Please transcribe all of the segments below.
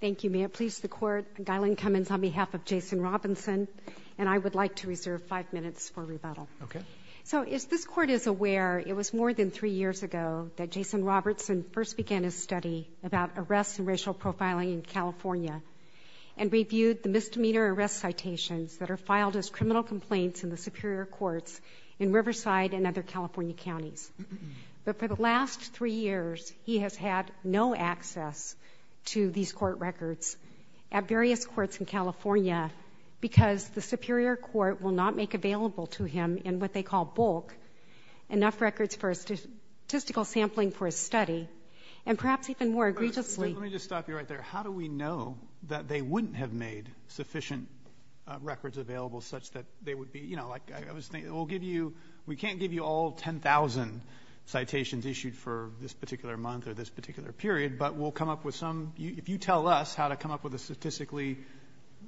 Thank you. May it please the Court, Gailen Cummins on behalf of Jason Robinson and I would like to reserve five minutes for rebuttal. Okay. So as this Court is aware, it was more than three years ago that Jason Robertson first began his study about arrests and racial profiling in California and reviewed the misdemeanor arrest citations that are filed as criminal complaints in the Superior Courts in Riverside and other California counties. But for the last three years, he has had no access to these court records at various courts in California because the Superior Court will not make available to him in what they call bulk enough records for a statistical sampling for his study, and perhaps even more egregiously — Roberts, let me just stop you right there. How do we know that they wouldn't have made sufficient records available such that they would be — you know, like, I was thinking, we'll give you — we can't give you all 10,000 citations issued for this particular month or this particular period, but we'll come up with some — if you tell us how to come up with a statistically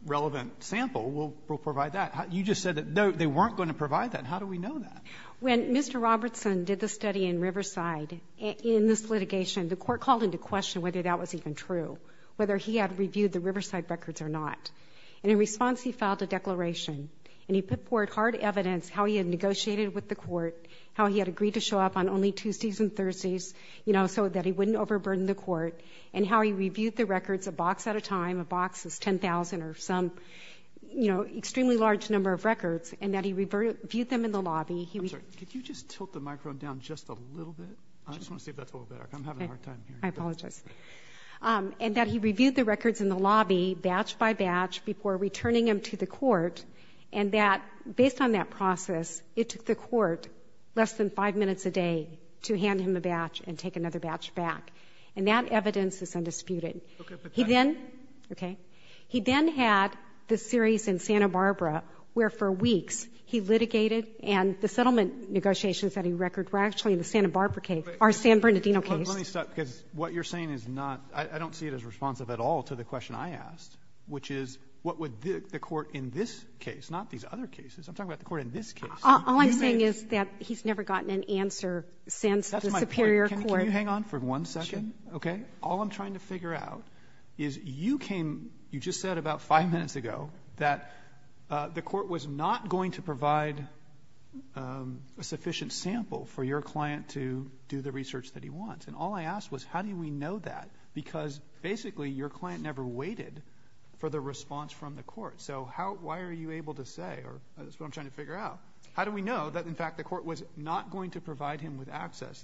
relevant sample, we'll provide that. You just said that they weren't going to provide that. How do we know that? When Mr. Robertson did the study in Riverside, in this litigation, the Court called into question whether that was even true, whether he had reviewed the Riverside records or not. And in response, he filed a declaration, and he put forward hard evidence how he had negotiated with the Court, how he had agreed to show up on only Tuesdays and Thursdays, you know, so that he wouldn't overburden the Court, and how he reviewed the records a box at a time — a box is 10,000 or some, you know, extremely large number of records — and that he reviewed them in the lobby. I'm sorry. Could you just tilt the microphone down just a little bit? I just want to see if that's a little better. I'm having a hard time hearing you. I apologize. And that he reviewed the records in the lobby batch by batch before returning them to the Court, and that, based on that process, it took the Court less than five minutes a day to hand him a batch and take another batch back. And that evidence is undisputed. He then — okay? He then had the series in Santa Barbara where, for weeks, he litigated and the settlement negotiations that he recorded were actually in the Santa Barbara case, our San Bernardino case. But let me stop, because what you're saying is not — I don't see it as responsive at all to the question I asked, which is, what would the Court in this case, not these other cases. I'm talking about the Court in this case. All I'm saying is that he's never gotten an answer since the superior court. That's my point. Can you hang on for one second? Okay? All I'm trying to figure out is you came — you just said about five minutes ago that the Court was not going to provide a sufficient sample for your client to do the research that he wants. And all I asked was, how do we know that? Because, basically, your client never waited for the response from the Court. So how — why are you able to say — or that's what I'm trying to figure out. How do we know that, in fact, the Court was not going to provide him with access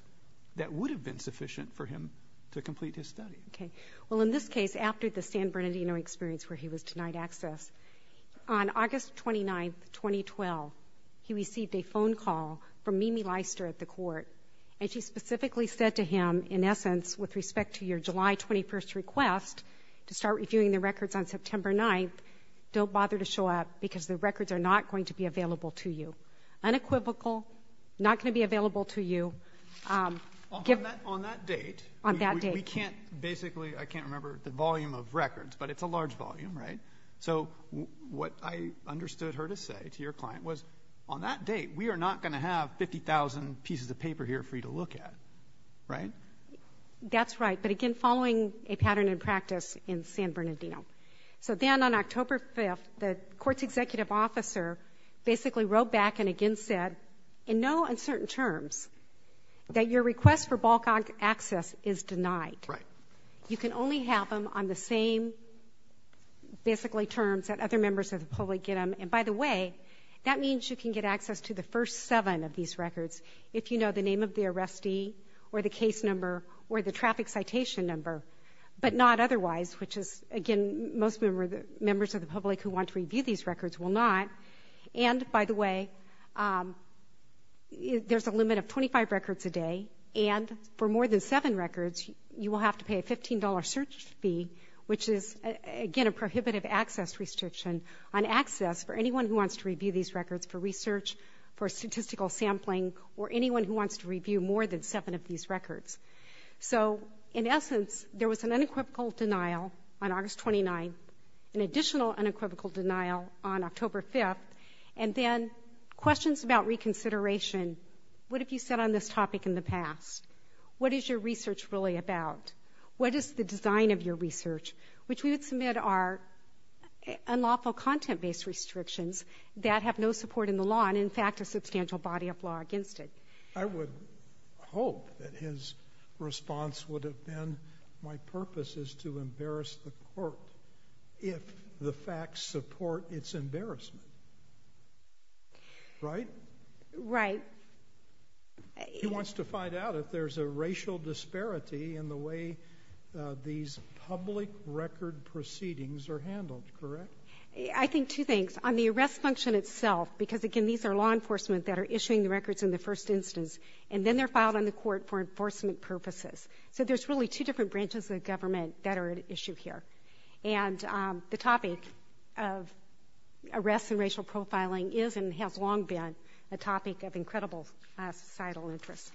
that would have been sufficient for him to complete his study? Okay. Well, in this case, after the San Bernardino experience where he was denied access, on August 29, 2012, he received a phone call from Mimi Leister at the Court, and she specifically said to him, in essence, with respect to your July 21 request to start reviewing the records on September 9, don't bother to show up because the records are not going to be available to you. Unequivocal, not going to be available to you. On that — on that date, we can't — basically, I can't remember the volume of records, but it's a large volume, right? So what I understood her to say to your client was, on that date, we are not going to have 50,000 pieces of paper here for you to look at, right? That's right. But again, following a pattern in practice in San Bernardino. So then, on October 5th, the Court's executive officer basically wrote back and again said, in no uncertain terms, that your request for bulk access is denied. Right. You can only have them on the same, basically, terms that other members of the public get And by the way, that means you can get access to the first seven of these records if you know the name of the arrestee or the case number or the traffic citation number, but not otherwise, which is, again, most members of the public who want to review these records will not. And by the way, there's a limit of 25 records a day, and for more than seven records, you will have to pay a $15 search fee, which is, again, a prohibitive access restriction on access for anyone who wants to review these records for research, for statistical sampling, or anyone who wants to review more than seven of these records. So in essence, there was an unequivocal denial on August 29th, an additional unequivocal denial on October 5th, and then questions about reconsideration. What have you said on this topic in the past? What is your research really about? What is the design of your research? Which we would submit are unlawful content-based restrictions that have no support in the law and, in fact, a substantial body of law against it. I would hope that his response would have been, my purpose is to embarrass the court if the facts support its embarrassment. Right? Right. He wants to find out if there's a racial disparity in the way these public records are reviewed and how these public record proceedings are handled. Correct? I think two things. On the arrest function itself, because, again, these are law enforcement that are issuing the records in the first instance, and then they're filed on the court for enforcement purposes. So there's really two different branches of government that are at issue here. And the topic of arrests and racial profiling is and has long been a topic of incredible societal interest.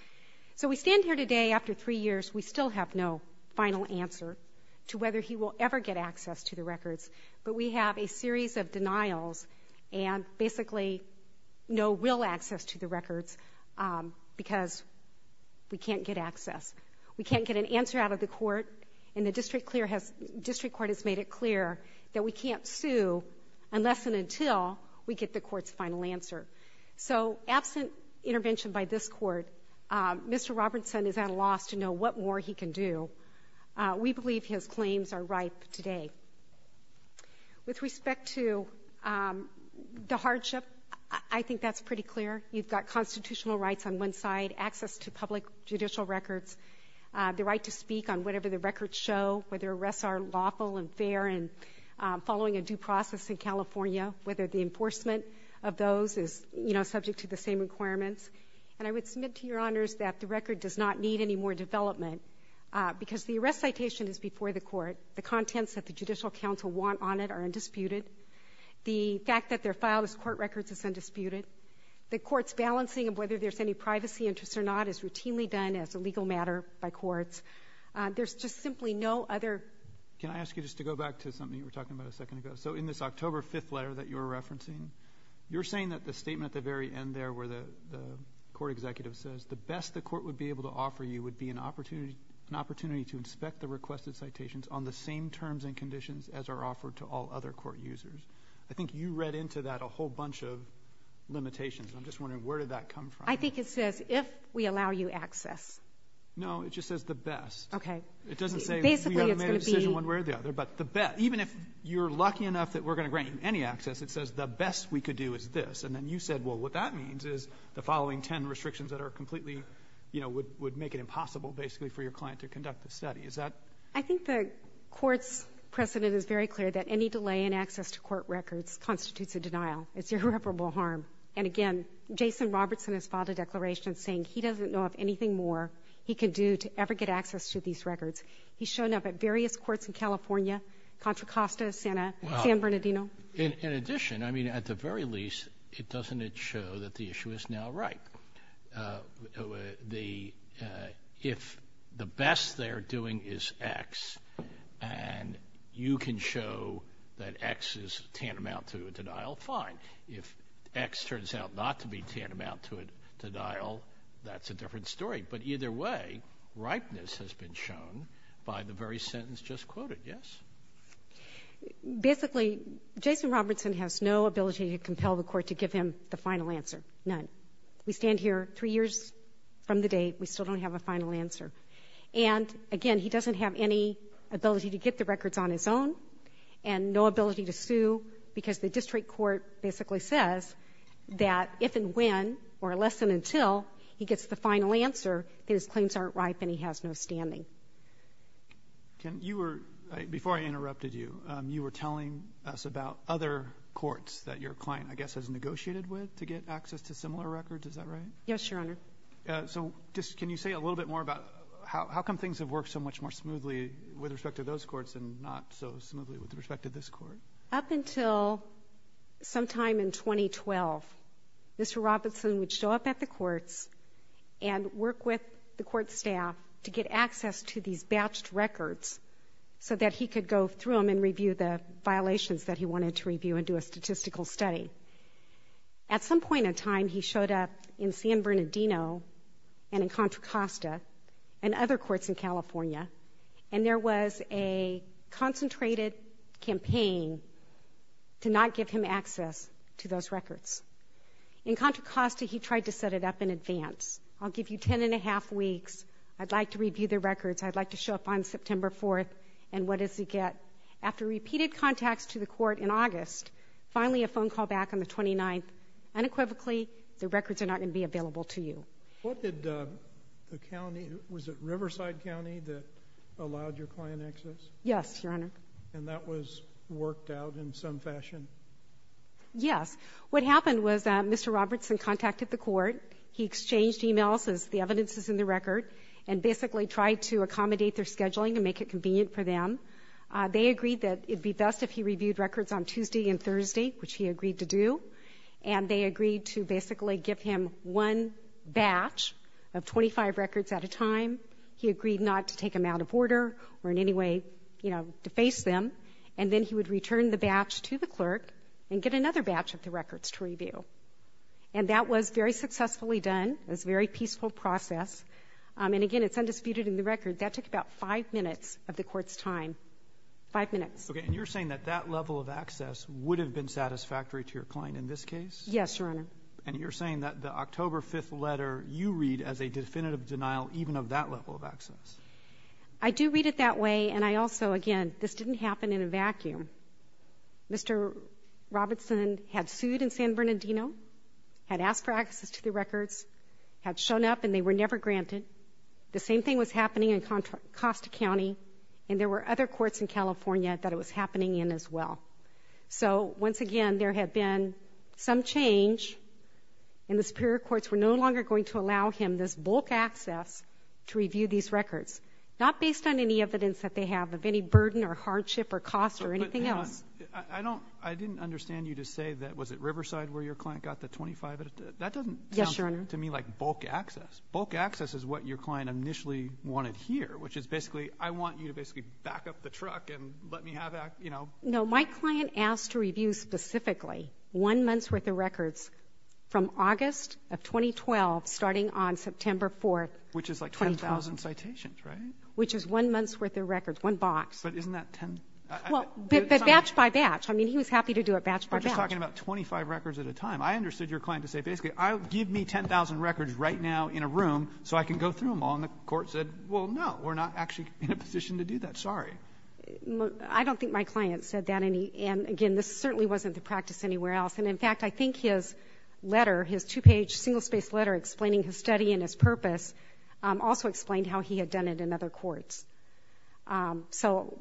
So we stand here today after three years. We still have no final answer to whether he will ever get access to the records. But we have a series of denials and basically no real access to the records because we can't get access. We can't get an answer out of the court. And the district court has made it clear that we can't sue unless and until we get the court's final answer. So absent intervention by this court, Mr. Robertson is at a loss to know what more he can do. We believe his claims are ripe today. With respect to the hardship, I think that's pretty clear. You've got constitutional rights on one side, access to public judicial records, the right to speak on whatever the records show, whether arrests are lawful and fair and following a due process in California, whether the enforcement of those is, you know, subject to the same requirements. And I would submit to Your Honors that the record does not need any more development because the arrest citation is before the court. The contents that the judicial counsel want on it are undisputed. The fact that they're filed as court records is undisputed. The court's balancing of whether there's any privacy interest or not is routinely done as a legal matter by courts. There's just simply no other Can I ask you just to go back to something you were talking about a second ago? So in this October 5th letter that you're referencing, you're saying that the statement at the very end there where the court executive says, the best the court would be able to offer you would be an opportunity to inspect the requested citations on the same terms and conditions as are offered to all other court users. I think you read into that a whole bunch of limitations. I'm just wondering, where did that come from? I think it says, if we allow you access. No, it just says the best. Okay. It doesn't say we haven't made a decision one way or the other, but the best. Even if you're lucky enough that we're going to grant you any access, it says the best we could do is this. And then you said, well, what that means is the following ten restrictions that are completely, you know, would make it impossible, basically, for your client to conduct the study. Is that? I think the Court's precedent is very clear that any delay in access to court records constitutes a denial. It's irreparable harm. And again, Jason Robertson has filed a declaration saying he doesn't know of anything more he can do to ever get access to these records. He's shown up at various courts in California, Contra Costa, San Bernardino. In addition, I mean, at the very least, doesn't it show that the issue is now ripe? If the best they're doing is X and you can show that X is tantamount to a denial, fine. If X turns out not to be tantamount to a denial, that's a different story. But either way, ripeness has been shown by the very sentence just quoted, yes? Basically, Jason Robertson has no ability to compel the Court to give him the final answer, none. We stand here three years from the date. We still don't have a final answer. And again, he doesn't have any ability to get the records on his own and no ability to sue because the district court basically says that if and when or less than until he gets the final answer, then his claims aren't ripe and he has no standing. Can you or before I interrupted you, you were telling us about other courts that your client, I guess, has negotiated with to get access to similar records. Is that right? Yes, Your Honor. So just can you say a little bit more about how come things have worked so much more smoothly with respect to those courts and not so smoothly with respect to this Court? Up until sometime in 2012, Mr. Robertson would show up at the courts and work with the court staff to get access to these batched records so that he could go through them and review the violations that he wanted to review and do a statistical study. At some point in time, he showed up in San Bernardino and in Contra Costa and other courts in California, and there was a concentrated campaign to not give him access to those records. In Contra Costa, he tried to set it up in advance. I'll give you ten and a half weeks. I'd like to review the records. I'd like to show up on September 4th. And what does he get? After repeated contacts to the court in August, finally a phone call back on the 29th. Unequivocally, the records are not going to be available to you. What did the county, was it Riverside County that allowed your client access? Yes, Your Honor. And that was worked out in some fashion? Yes. What happened was that Mr. Robertson contacted the court. He exchanged emails as the evidence is in the record and basically tried to accommodate their scheduling and make it convenient for them. They agreed that it'd be best if he reviewed records on Tuesday and Thursday, which he agreed to do. And they agreed to basically give him one batch of 25 records at a time. He agreed not to take them out of order or in any way, you know, deface them. And then he would return the batch to the clerk and get another batch of the records to review. And that was very successfully done. It was a very peaceful process. And again, it's undisputed in the record, that took about five minutes of the court's time. Five minutes. Okay. And you're saying that that level of access would have been satisfactory to your client in this case? Yes, Your Honor. And you're saying that the October 5th letter, you read as a definitive denial even of that level of access? I do read it that way. And I also, again, this didn't happen in a vacuum. Mr. Robertson had sued in San Bernardino, had asked for access to the records, had shown up and they were never granted. The same thing was happening in Costa County. And there were other cases in California that it was happening in as well. So once again, there had been some change and the superior courts were no longer going to allow him this bulk access to review these records. Not based on any evidence that they have of any burden or hardship or cost or anything else. I don't, I didn't understand you to say that, was it Riverside where your client got the 25? That doesn't sound to me like bulk access. Bulk access is what your client initially wanted here, which is basically, I want you to basically back up the truck and let me have that, you know. No, my client asked to review specifically one month's worth of records from August of 2012, starting on September 4th. Which is like 10,000 citations, right? Which is one month's worth of records, one box. But isn't that 10? Well, but batch by batch. I mean, he was happy to do it batch by batch. We're just talking about 25 records at a time. I understood your client to say, basically, give me 10,000 records right now in a room so I can go through them all. And the Court said, well, no, we're not actually in a position to do that. Sorry. I don't think my client said that. And again, this certainly wasn't the practice anywhere else. And in fact, I think his letter, his two-page, single-spaced letter explaining his study and his purpose also explained how he had done it in other courts. So,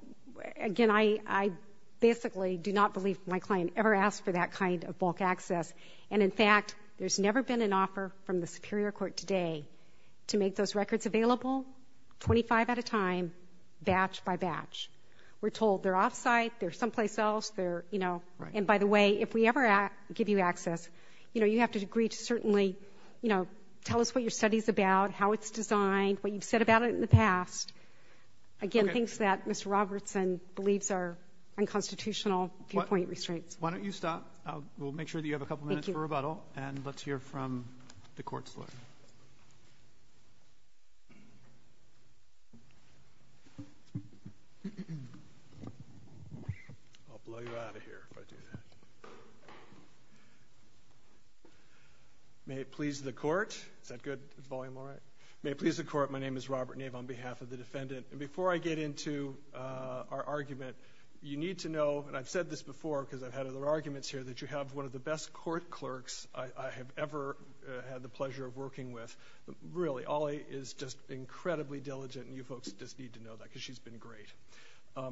again, I basically do not believe my client ever asked for that kind of bulk access. And in fact, there's never been an offer from the Superior Court today to make those records available 25 at a time, batch by batch. We're told they're off-site, they're someplace else, they're, you know. And by the way, if we ever give you access, you know, you have to agree to certainly, you know, tell us what your study's about, how it's designed, what you've said about it in the past. Again, things that Mr. Robertson believes are unconstitutional viewpoint restraints. Why don't you stop? We'll make sure that you have a couple of minutes for rebuttal. And let's hear from the court's lawyer. I'll blow you out of here if I do that. May it please the court. Is that good? Is the volume all right? May it please the court. My name is Robert Nave on behalf of the defendant. And before I get into our argument, you need to know, and I've said this before because I've had other arguments here, that you have one of the best court clerks I have ever had the pleasure of working with. Really, Ollie is just incredibly diligent. And you folks just need to know that because she's been great.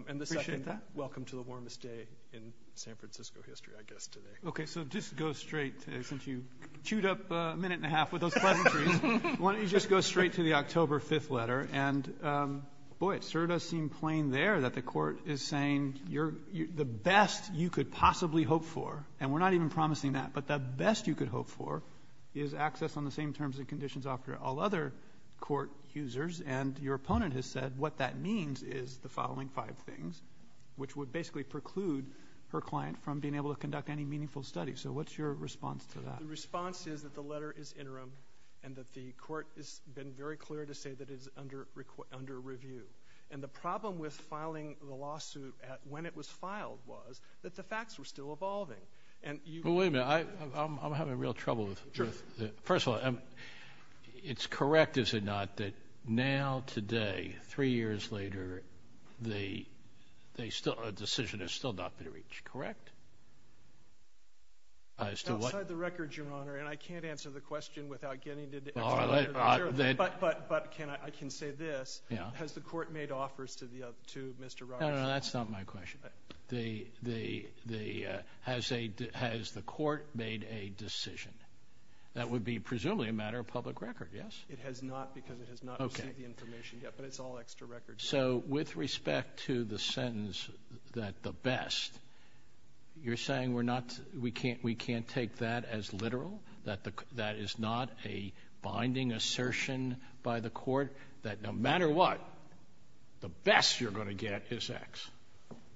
And the second, welcome to the warmest day in San Francisco history, I guess, today. OK, so just go straight, since you chewed up a minute and a half with those pleasantries, why don't you just go straight to the October 5th letter? And boy, it sort of does seem plain there that the court is saying you're the best you could possibly hope for. And we're not even promising that. But the best you could hope for is access on the same terms and conditions offered to all other court users. And your opponent has said what that means is the following five things, which would basically preclude her client from being able to conduct any meaningful study. So what's your response to that? The response is that the letter is interim and that the court has been very clear to say that it is under review. And the problem with filing the lawsuit when it was filed was that the facts were still evolving. And you wait a minute, I'm having real trouble with the truth. First of all, it's correct, is it not, that now today, three years later, the decision has still not been reached, correct? Outside the record, Your Honor, and I can't answer the question without getting to the court made offers to the to Mr. No, no, that's not my question. The the the has a has the court made a decision that would be presumably a matter of public record. Yes, it has not because it has not received the information yet, but it's all extra records. So with respect to the sentence that the best you're saying, we're not we can't we can't take that as literal, that that is not a binding assertion by the court that no matter what, the best you're going to get is X.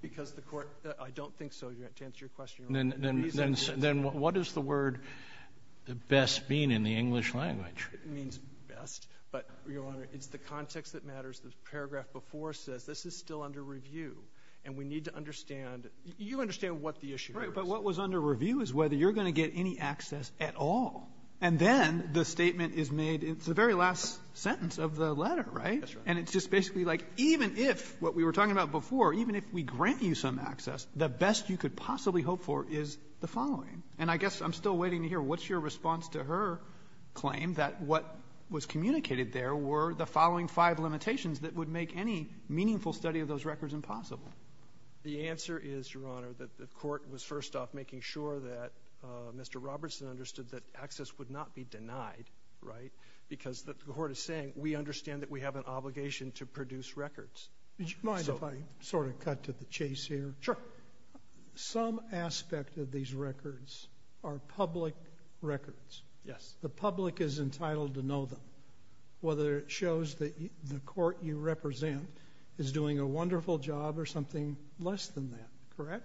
Because the court, I don't think so, to answer your question. Then what is the word the best mean in the English language? It means best, but, Your Honor, it's the context that matters. The paragraph before says this is still under review, and we need to understand you understand what the issue is. Right, but what was under review is whether you're going to get any access at all. And then the statement is made, it's the very last sentence of the letter, right? And it's just basically like even if what we were talking about before, even if we grant you some access, the best you could possibly hope for is the following. And I guess I'm still waiting to hear what's your response to her claim that what was communicated there were the following five limitations that would make any meaningful study of those records impossible. The answer is, Your Honor, that the court was first off making sure that Mr. Robertson understood that access would not be denied, right, because the court is saying we understand that we have an obligation to produce records. Would you mind if I sort of cut to the chase here? Sure. Some aspect of these records are public records. Yes. The public is entitled to know them, whether it shows that the court you represent is doing a wonderful job or something less than that, correct?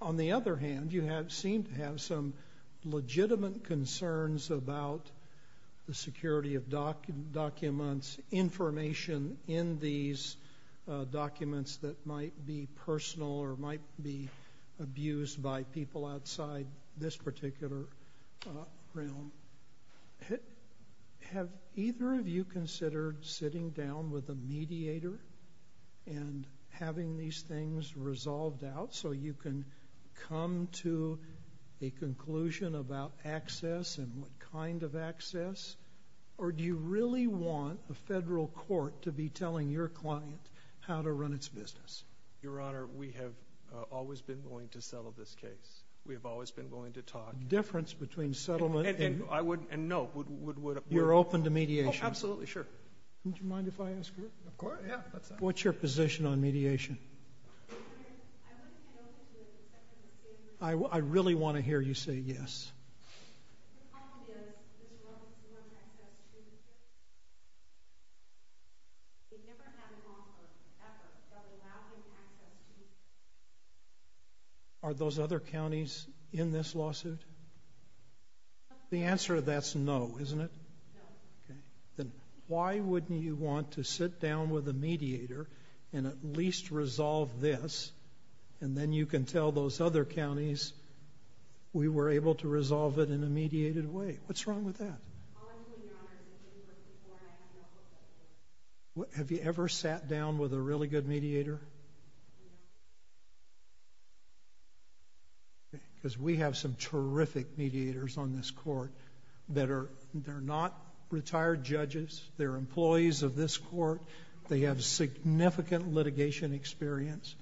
On the other hand, you have seemed to have some legitimate concerns about the security of documents, information in these documents that might be personal or might be abused by people outside this particular realm. Have either of you considered sitting down with a mediator and having these things resolved out so you can come to a conclusion about access and what kind of access? Or do you really want the federal court to be telling your client how to run its business? Your Honor, we have always been willing to settle this case. We have always been willing to talk. Difference between settlement and... I would... and no, would... would... You're open to mediation? Oh, absolutely. Sure. Would you mind if I ask her? Of course. Yeah. What's your position on mediation? Your Honor, I wouldn't get over to the Department of Safety... I really want to hear you say yes. The problem is, this realm, we want access to... We've never had an offer, ever, of allowing access to... Are those other counties in this lawsuit? The answer to that's no, isn't it? No. Okay. Then, why wouldn't you want to sit down with a mediator and at least resolve this? And then you can tell those other counties, we were able to resolve it in a mediated way. What's wrong with that? Honestly, Your Honor... Have you ever sat down with a really good mediator? No. Okay. Because we have some terrific mediators on this court that are... They're not retired judges. They're employees of this court. They have significant litigation experience.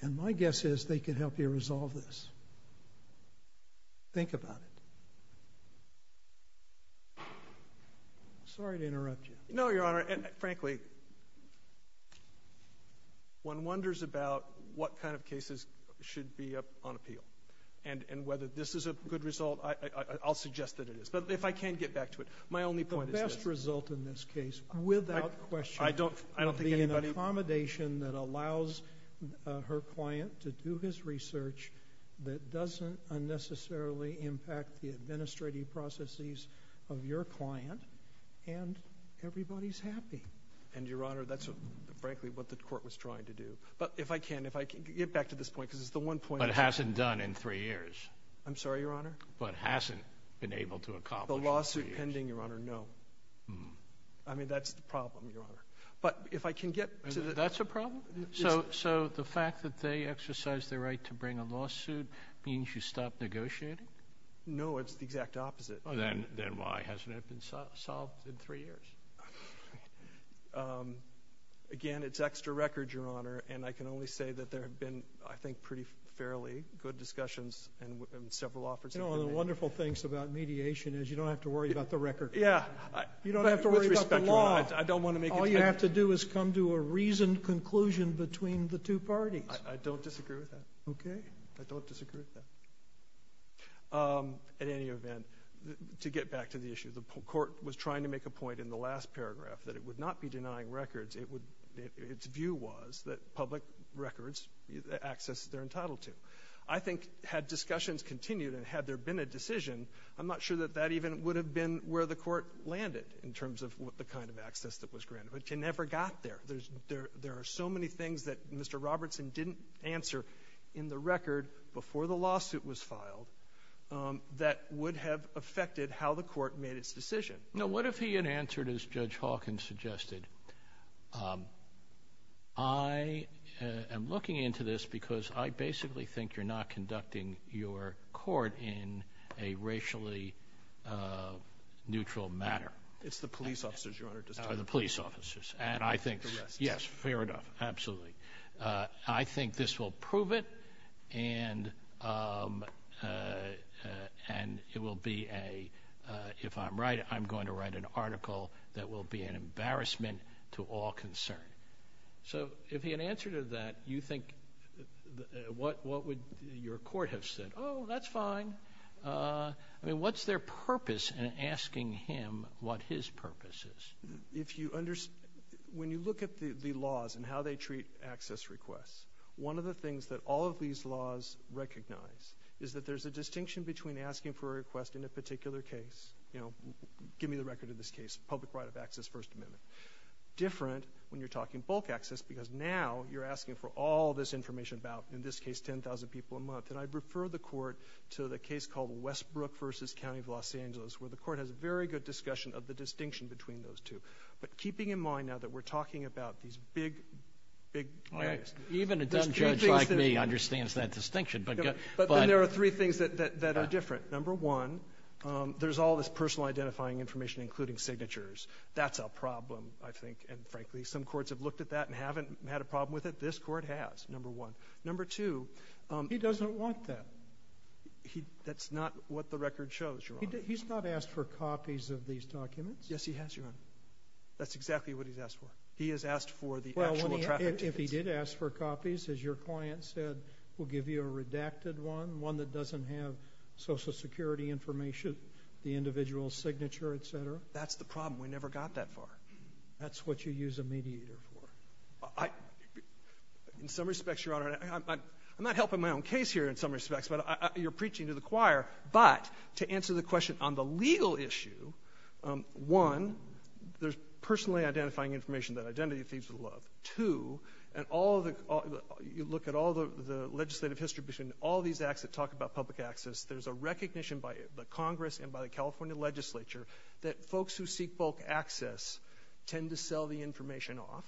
And my guess is, they could help you resolve this. Think about it. Sorry to interrupt you. No, Your Honor. Frankly, one wonders about what kind of cases should be on appeal. And whether this is a good result. I'll suggest that it is. But if I can get back to it. My only point is... The best result in this case, without question... I don't think anybody...... would be an accommodation that allows her client to do his research that doesn't unnecessarily impact the administrative processes of your client. And everybody's happy. And, Your Honor, that's frankly what the court was trying to do. But if I can... If I can get back to this point, because it's the one point... But hasn't done in three years. I'm sorry, Your Honor? But hasn't been able to accomplish in three years. The lawsuit pending, Your Honor, no. I mean, that's the problem, Your Honor. But if I can get... That's a problem? So, the fact that they exercised their right to bring a lawsuit means you stopped negotiating? No, it's the exact opposite. Then why? Hasn't it been solved in three years? Again, it's extra record, Your Honor. And I can only say that there have been, I think, pretty fairly good discussions and several offers. You know, one of the wonderful things about mediation is you don't have to worry about the record. Yeah. You don't have to worry about the law. With respect, Your Honor, I don't want to make it... I don't disagree with that. Okay. I don't disagree with that. At any event, to get back to the issue, the court was trying to make a point in the last paragraph that it would not be denying records. Its view was that public records, access, they're entitled to. I think had discussions continued and had there been a decision, I'm not sure that that even would have been where the court landed in terms of the kind of access that was granted. But you never got there. There are so many things that Mr. Robertson didn't answer in the record before the lawsuit was filed that would have affected how the court made its decision. Now, what if he had answered, as Judge Hawkins suggested, I am looking into this because I basically think you're not conducting your court in a racially neutral manner. It's the police officers, Your Honor. The police officers. And I think... The rest. Yes, fair enough. Absolutely. I think this will prove it and it will be a... if I'm right, I'm going to write an article that will be an embarrassment to all concerned. So, if he had answered to that, you think what would your court have said? Oh, that's fine. I mean, what's their purpose in asking him what his purpose is? If you understand... when you look at the laws and how they treat access requests, one of the things that all of these laws recognize is that there's a distinction between asking for a request in a particular case. You know, give me the record of this case, public right of access, First Amendment. Different when you're talking bulk access because now you're asking for all this information about, in this case, 10,000 people a month. And I'd refer the court to the case called Westbrook v. County of Los Angeles where the court has a very good discussion of the distinction between those two. But keeping in mind now that we're talking about these big, big... All right. Even a dumb judge like me understands that distinction, but... But then there are three things that are different. Number one, there's all this personal identifying information, including signatures. That's a problem, I think. And, frankly, some courts have looked at that and haven't had a problem with it. This court has, number one. Number two... He doesn't want that. That's not what the record shows, Your Honor. He's not asked for copies of these documents. Yes, he has, Your Honor. That's exactly what he's asked for. He has asked for the actual traffic tickets. Well, if he did ask for copies, as your client said, we'll give you a redacted one, one that doesn't have Social Security information, the individual's signature, et cetera. That's the problem. We never got that far. That's what you use a mediator for. In some respects, Your Honor, I'm not helping my own case here in some respects, but you're preaching to the choir. But to answer the question on the legal issue, one, there's personally identifying information that Identity Thieves would love. Two, and you look at all the legislative history between all these acts that talk about public access, there's a recognition by the Congress and by the California legislature that folks who seek bulk access tend to sell the information off.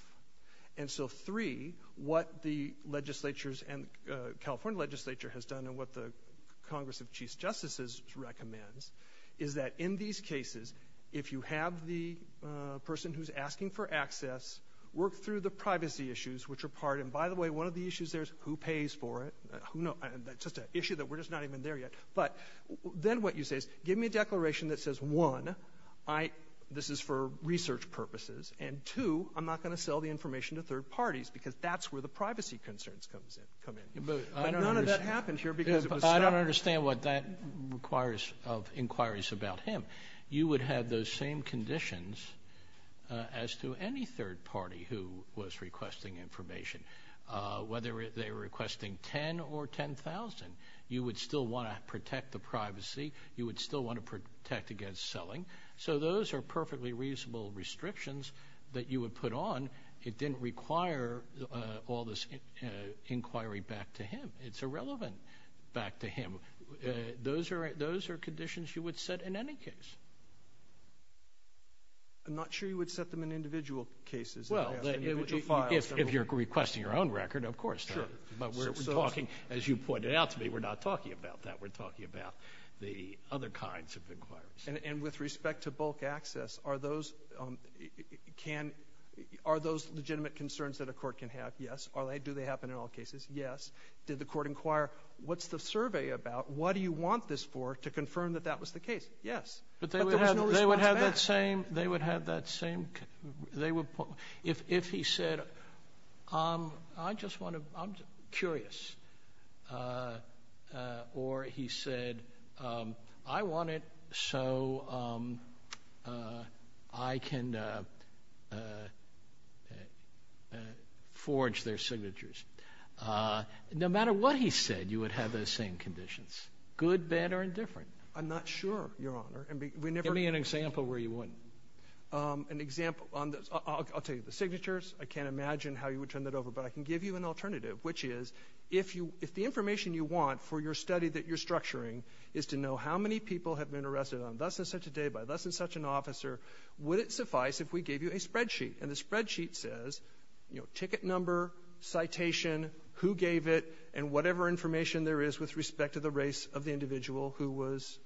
And so, three, what the legislatures and the California legislature has done and what the Congress of Chief Justices recommends is that in these cases, if you have the person who's asking for access, work through the privacy issues, which are part... And, by the way, one of the issues there is who pays for it. That's just an issue that we're just not even there yet. But then what you say is, give me a declaration that says, one, this is for research purposes, and two, I'm not going to sell the information to third parties because that's where the privacy concerns come in. But none of that happened here because it was... I don't understand what that requires of inquiries about him. You would have those same conditions as to any third party who was requesting information, whether they were requesting $10,000 or $10,000. You would still want to protect the privacy. You would still want to protect against selling. So those are perfectly reasonable restrictions that you would put on. It didn't require all this inquiry back to him. It's irrelevant back to him. Those are conditions you would set in any case. I'm not sure you would set them in individual cases. Well, if you're requesting your own record, of course. Sure. But we're talking, as you pointed out to me, we're not talking about that. We're talking about the other kinds of inquiries. And with respect to bulk access, are those legitimate concerns that a court can have? Yes. Do they happen in all cases? Yes. Did the court inquire, what's the survey about? What do you want this for to confirm that that was the case? Yes. But there was no response back. They would have that same, if he said, I just want to, I'm curious. Or he said, I want it so I can forge their signatures. No matter what he said, you would have those same conditions, good, bad, or indifferent. I'm not sure, Your Honor. Give me an example where you wouldn't. An example, I'll tell you. The signatures, I can't imagine how you would turn that over. But I can give you an alternative, which is, if the information you want for your study that you're structuring is to know how many people have been arrested on thus and such a day by thus and such an officer, would it suffice if we gave you a spreadsheet? And the spreadsheet says, you know, ticket number, citation, who gave it, and whatever information there is with respect to the race of the individual who was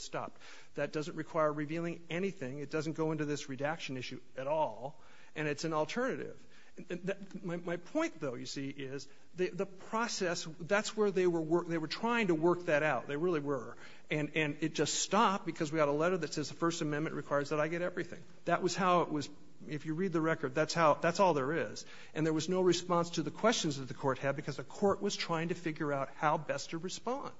stopped. That doesn't require revealing anything. It doesn't go into this redaction issue at all. And it's an alternative. My point, though, you see, is the process, that's where they were trying to work that out. They really were. And it just stopped because we got a letter that says the First Amendment requires that I get everything. That was how it was. If you read the record, that's how, that's all there is. And there was no response to the questions that the court had because the court was trying to figure out how best to respond.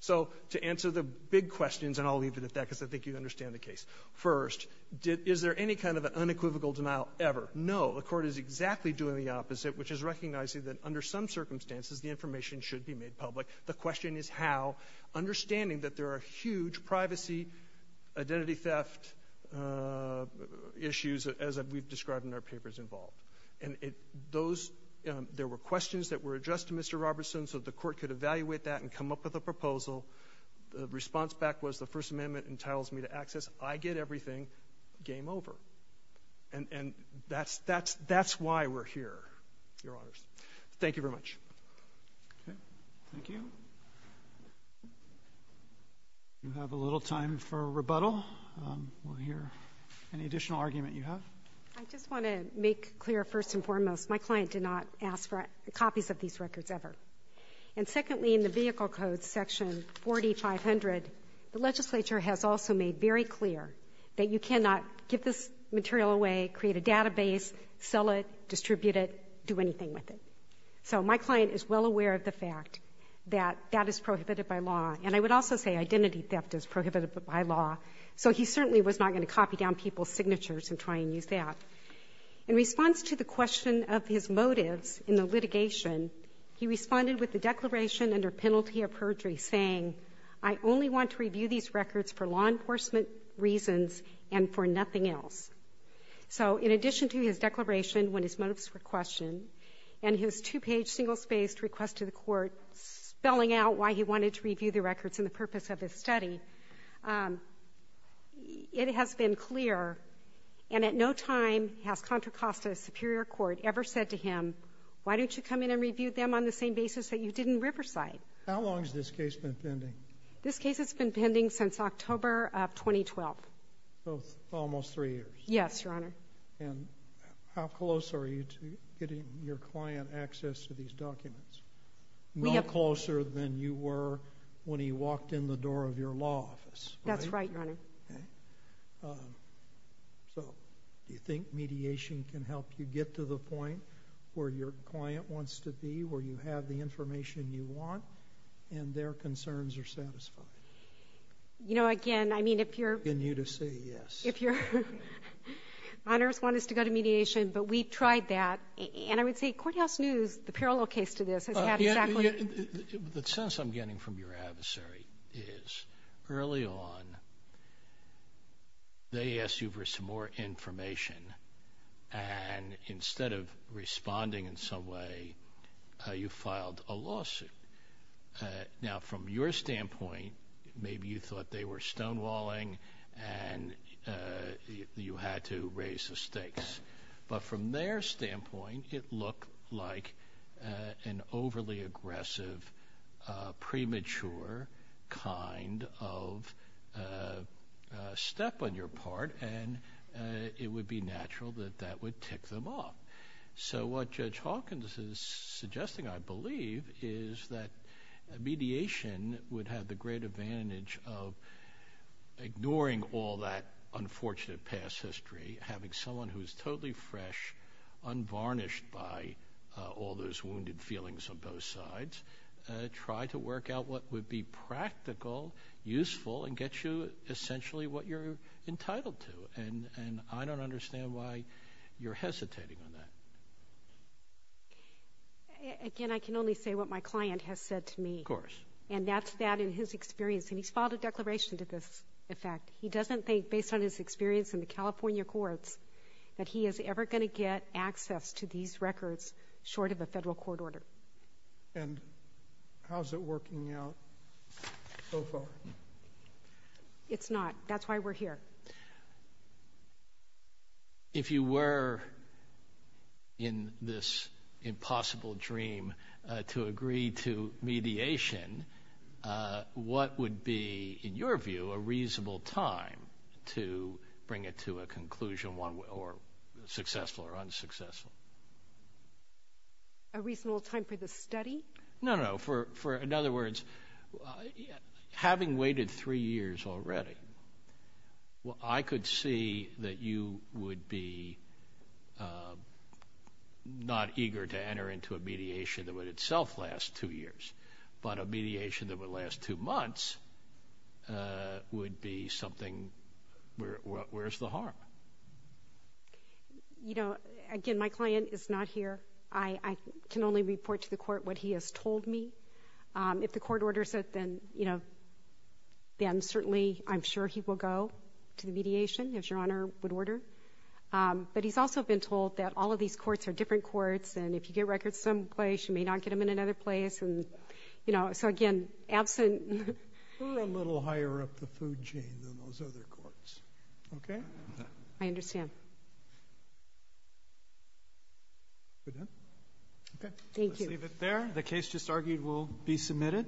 So to answer the big questions, and I'll leave it at that because I think you understand the case. First, is there any kind of unequivocal denial ever? No. The court is exactly doing the opposite, which is recognizing that under some circumstances, the information should be made public. The question is how, understanding that there are huge privacy, identity theft issues, as we've described in our papers involved. And those, there were questions that were addressed to Mr. Robertson, so the court could evaluate that and come up with a proposal. The response back was the First Amendment entitles me to access, I get everything, game over. And that's why we're here, Your Honors. Thank you very much. Okay. Thank you. We have a little time for rebuttal. We'll hear any additional argument you have. I just want to make clear, first and foremost, my client did not ask for copies of these records ever. And secondly, in the Vehicle Code, Section 4500, the legislature has also made very clear that you cannot give this material away, create a database, sell it, distribute it, do anything with it. So my client is well aware of the fact that that is prohibited by law. And I would also say identity theft is prohibited by law. So he certainly was not going to copy down people's signatures and try and use that. In response to the question of his motives in the litigation, he responded with a declaration under penalty of perjury saying, I only want to review these records for law enforcement reasons and for nothing else. So in addition to his declaration when his motives were questioned and his two-page, single-spaced request to the court spelling out why he wanted to review the records and the purpose of his study, it has been clear. And at no time has Contra Costa Superior Court ever said to him, why don't you come in and review them on the same basis that you did in Riverside? How long has this case been pending? This case has been pending since October of 2012. So almost three years. Yes, Your Honor. And how close are you to getting your client access to these documents? Not closer than you were when he walked in the door of your law office. That's right, Your Honor. Okay. So do you think mediation can help you get to the point where your client wants to be, where you have the information you want, and their concerns are satisfied? You know, again, I mean, if you're going to say yes. Minors want us to go to mediation, but we've tried that. And I would say courthouse news, the parallel case to this, has had exactly. The sense I'm getting from your adversary is early on they asked you for some more information, and instead of responding in some way, you filed a lawsuit. Now, from your standpoint, maybe you thought they were stonewalling and you had to raise the stakes. But from their standpoint, it looked like an overly aggressive, premature kind of step on your part, and it would be natural that that would tick them off. So what Judge Hawkins is suggesting, I believe, is that mediation would have the great advantage of ignoring all that unfortunate past history, having someone who is totally fresh, unvarnished by all those wounded feelings on both sides, try to work out what would be practical, useful, and get you essentially what you're entitled to. And I don't understand why you're hesitating on that. Again, I can only say what my client has said to me. Of course. And that's that in his experience. And he's filed a declaration to this effect. He doesn't think, based on his experience in the California courts, that he is ever going to get access to these records short of a federal court order. And how is it working out so far? It's not. That's why we're here. If you were in this impossible dream to agree to mediation, what would be, in your view, a reasonable time to bring it to a conclusion, successful or unsuccessful? A reasonable time for the study? No, no. In other words, having waited three years already, I could see that you would be not eager to enter into a mediation that would itself last two years, but a mediation that would last two months would be something where's the harm? You know, again, my client is not here. I can only report to the court what he has told me. If the court orders it, then, you know, certainly I'm sure he will go to the mediation, as Your Honor would order. But he's also been told that all of these courts are different courts and if you get records someplace, you may not get them in another place. So, again, absent. We're a little higher up the food chain than those other courts. Okay? I understand. Thank you. We're done? Okay. Thank you. Let's leave it there. The case just argued will be submitted.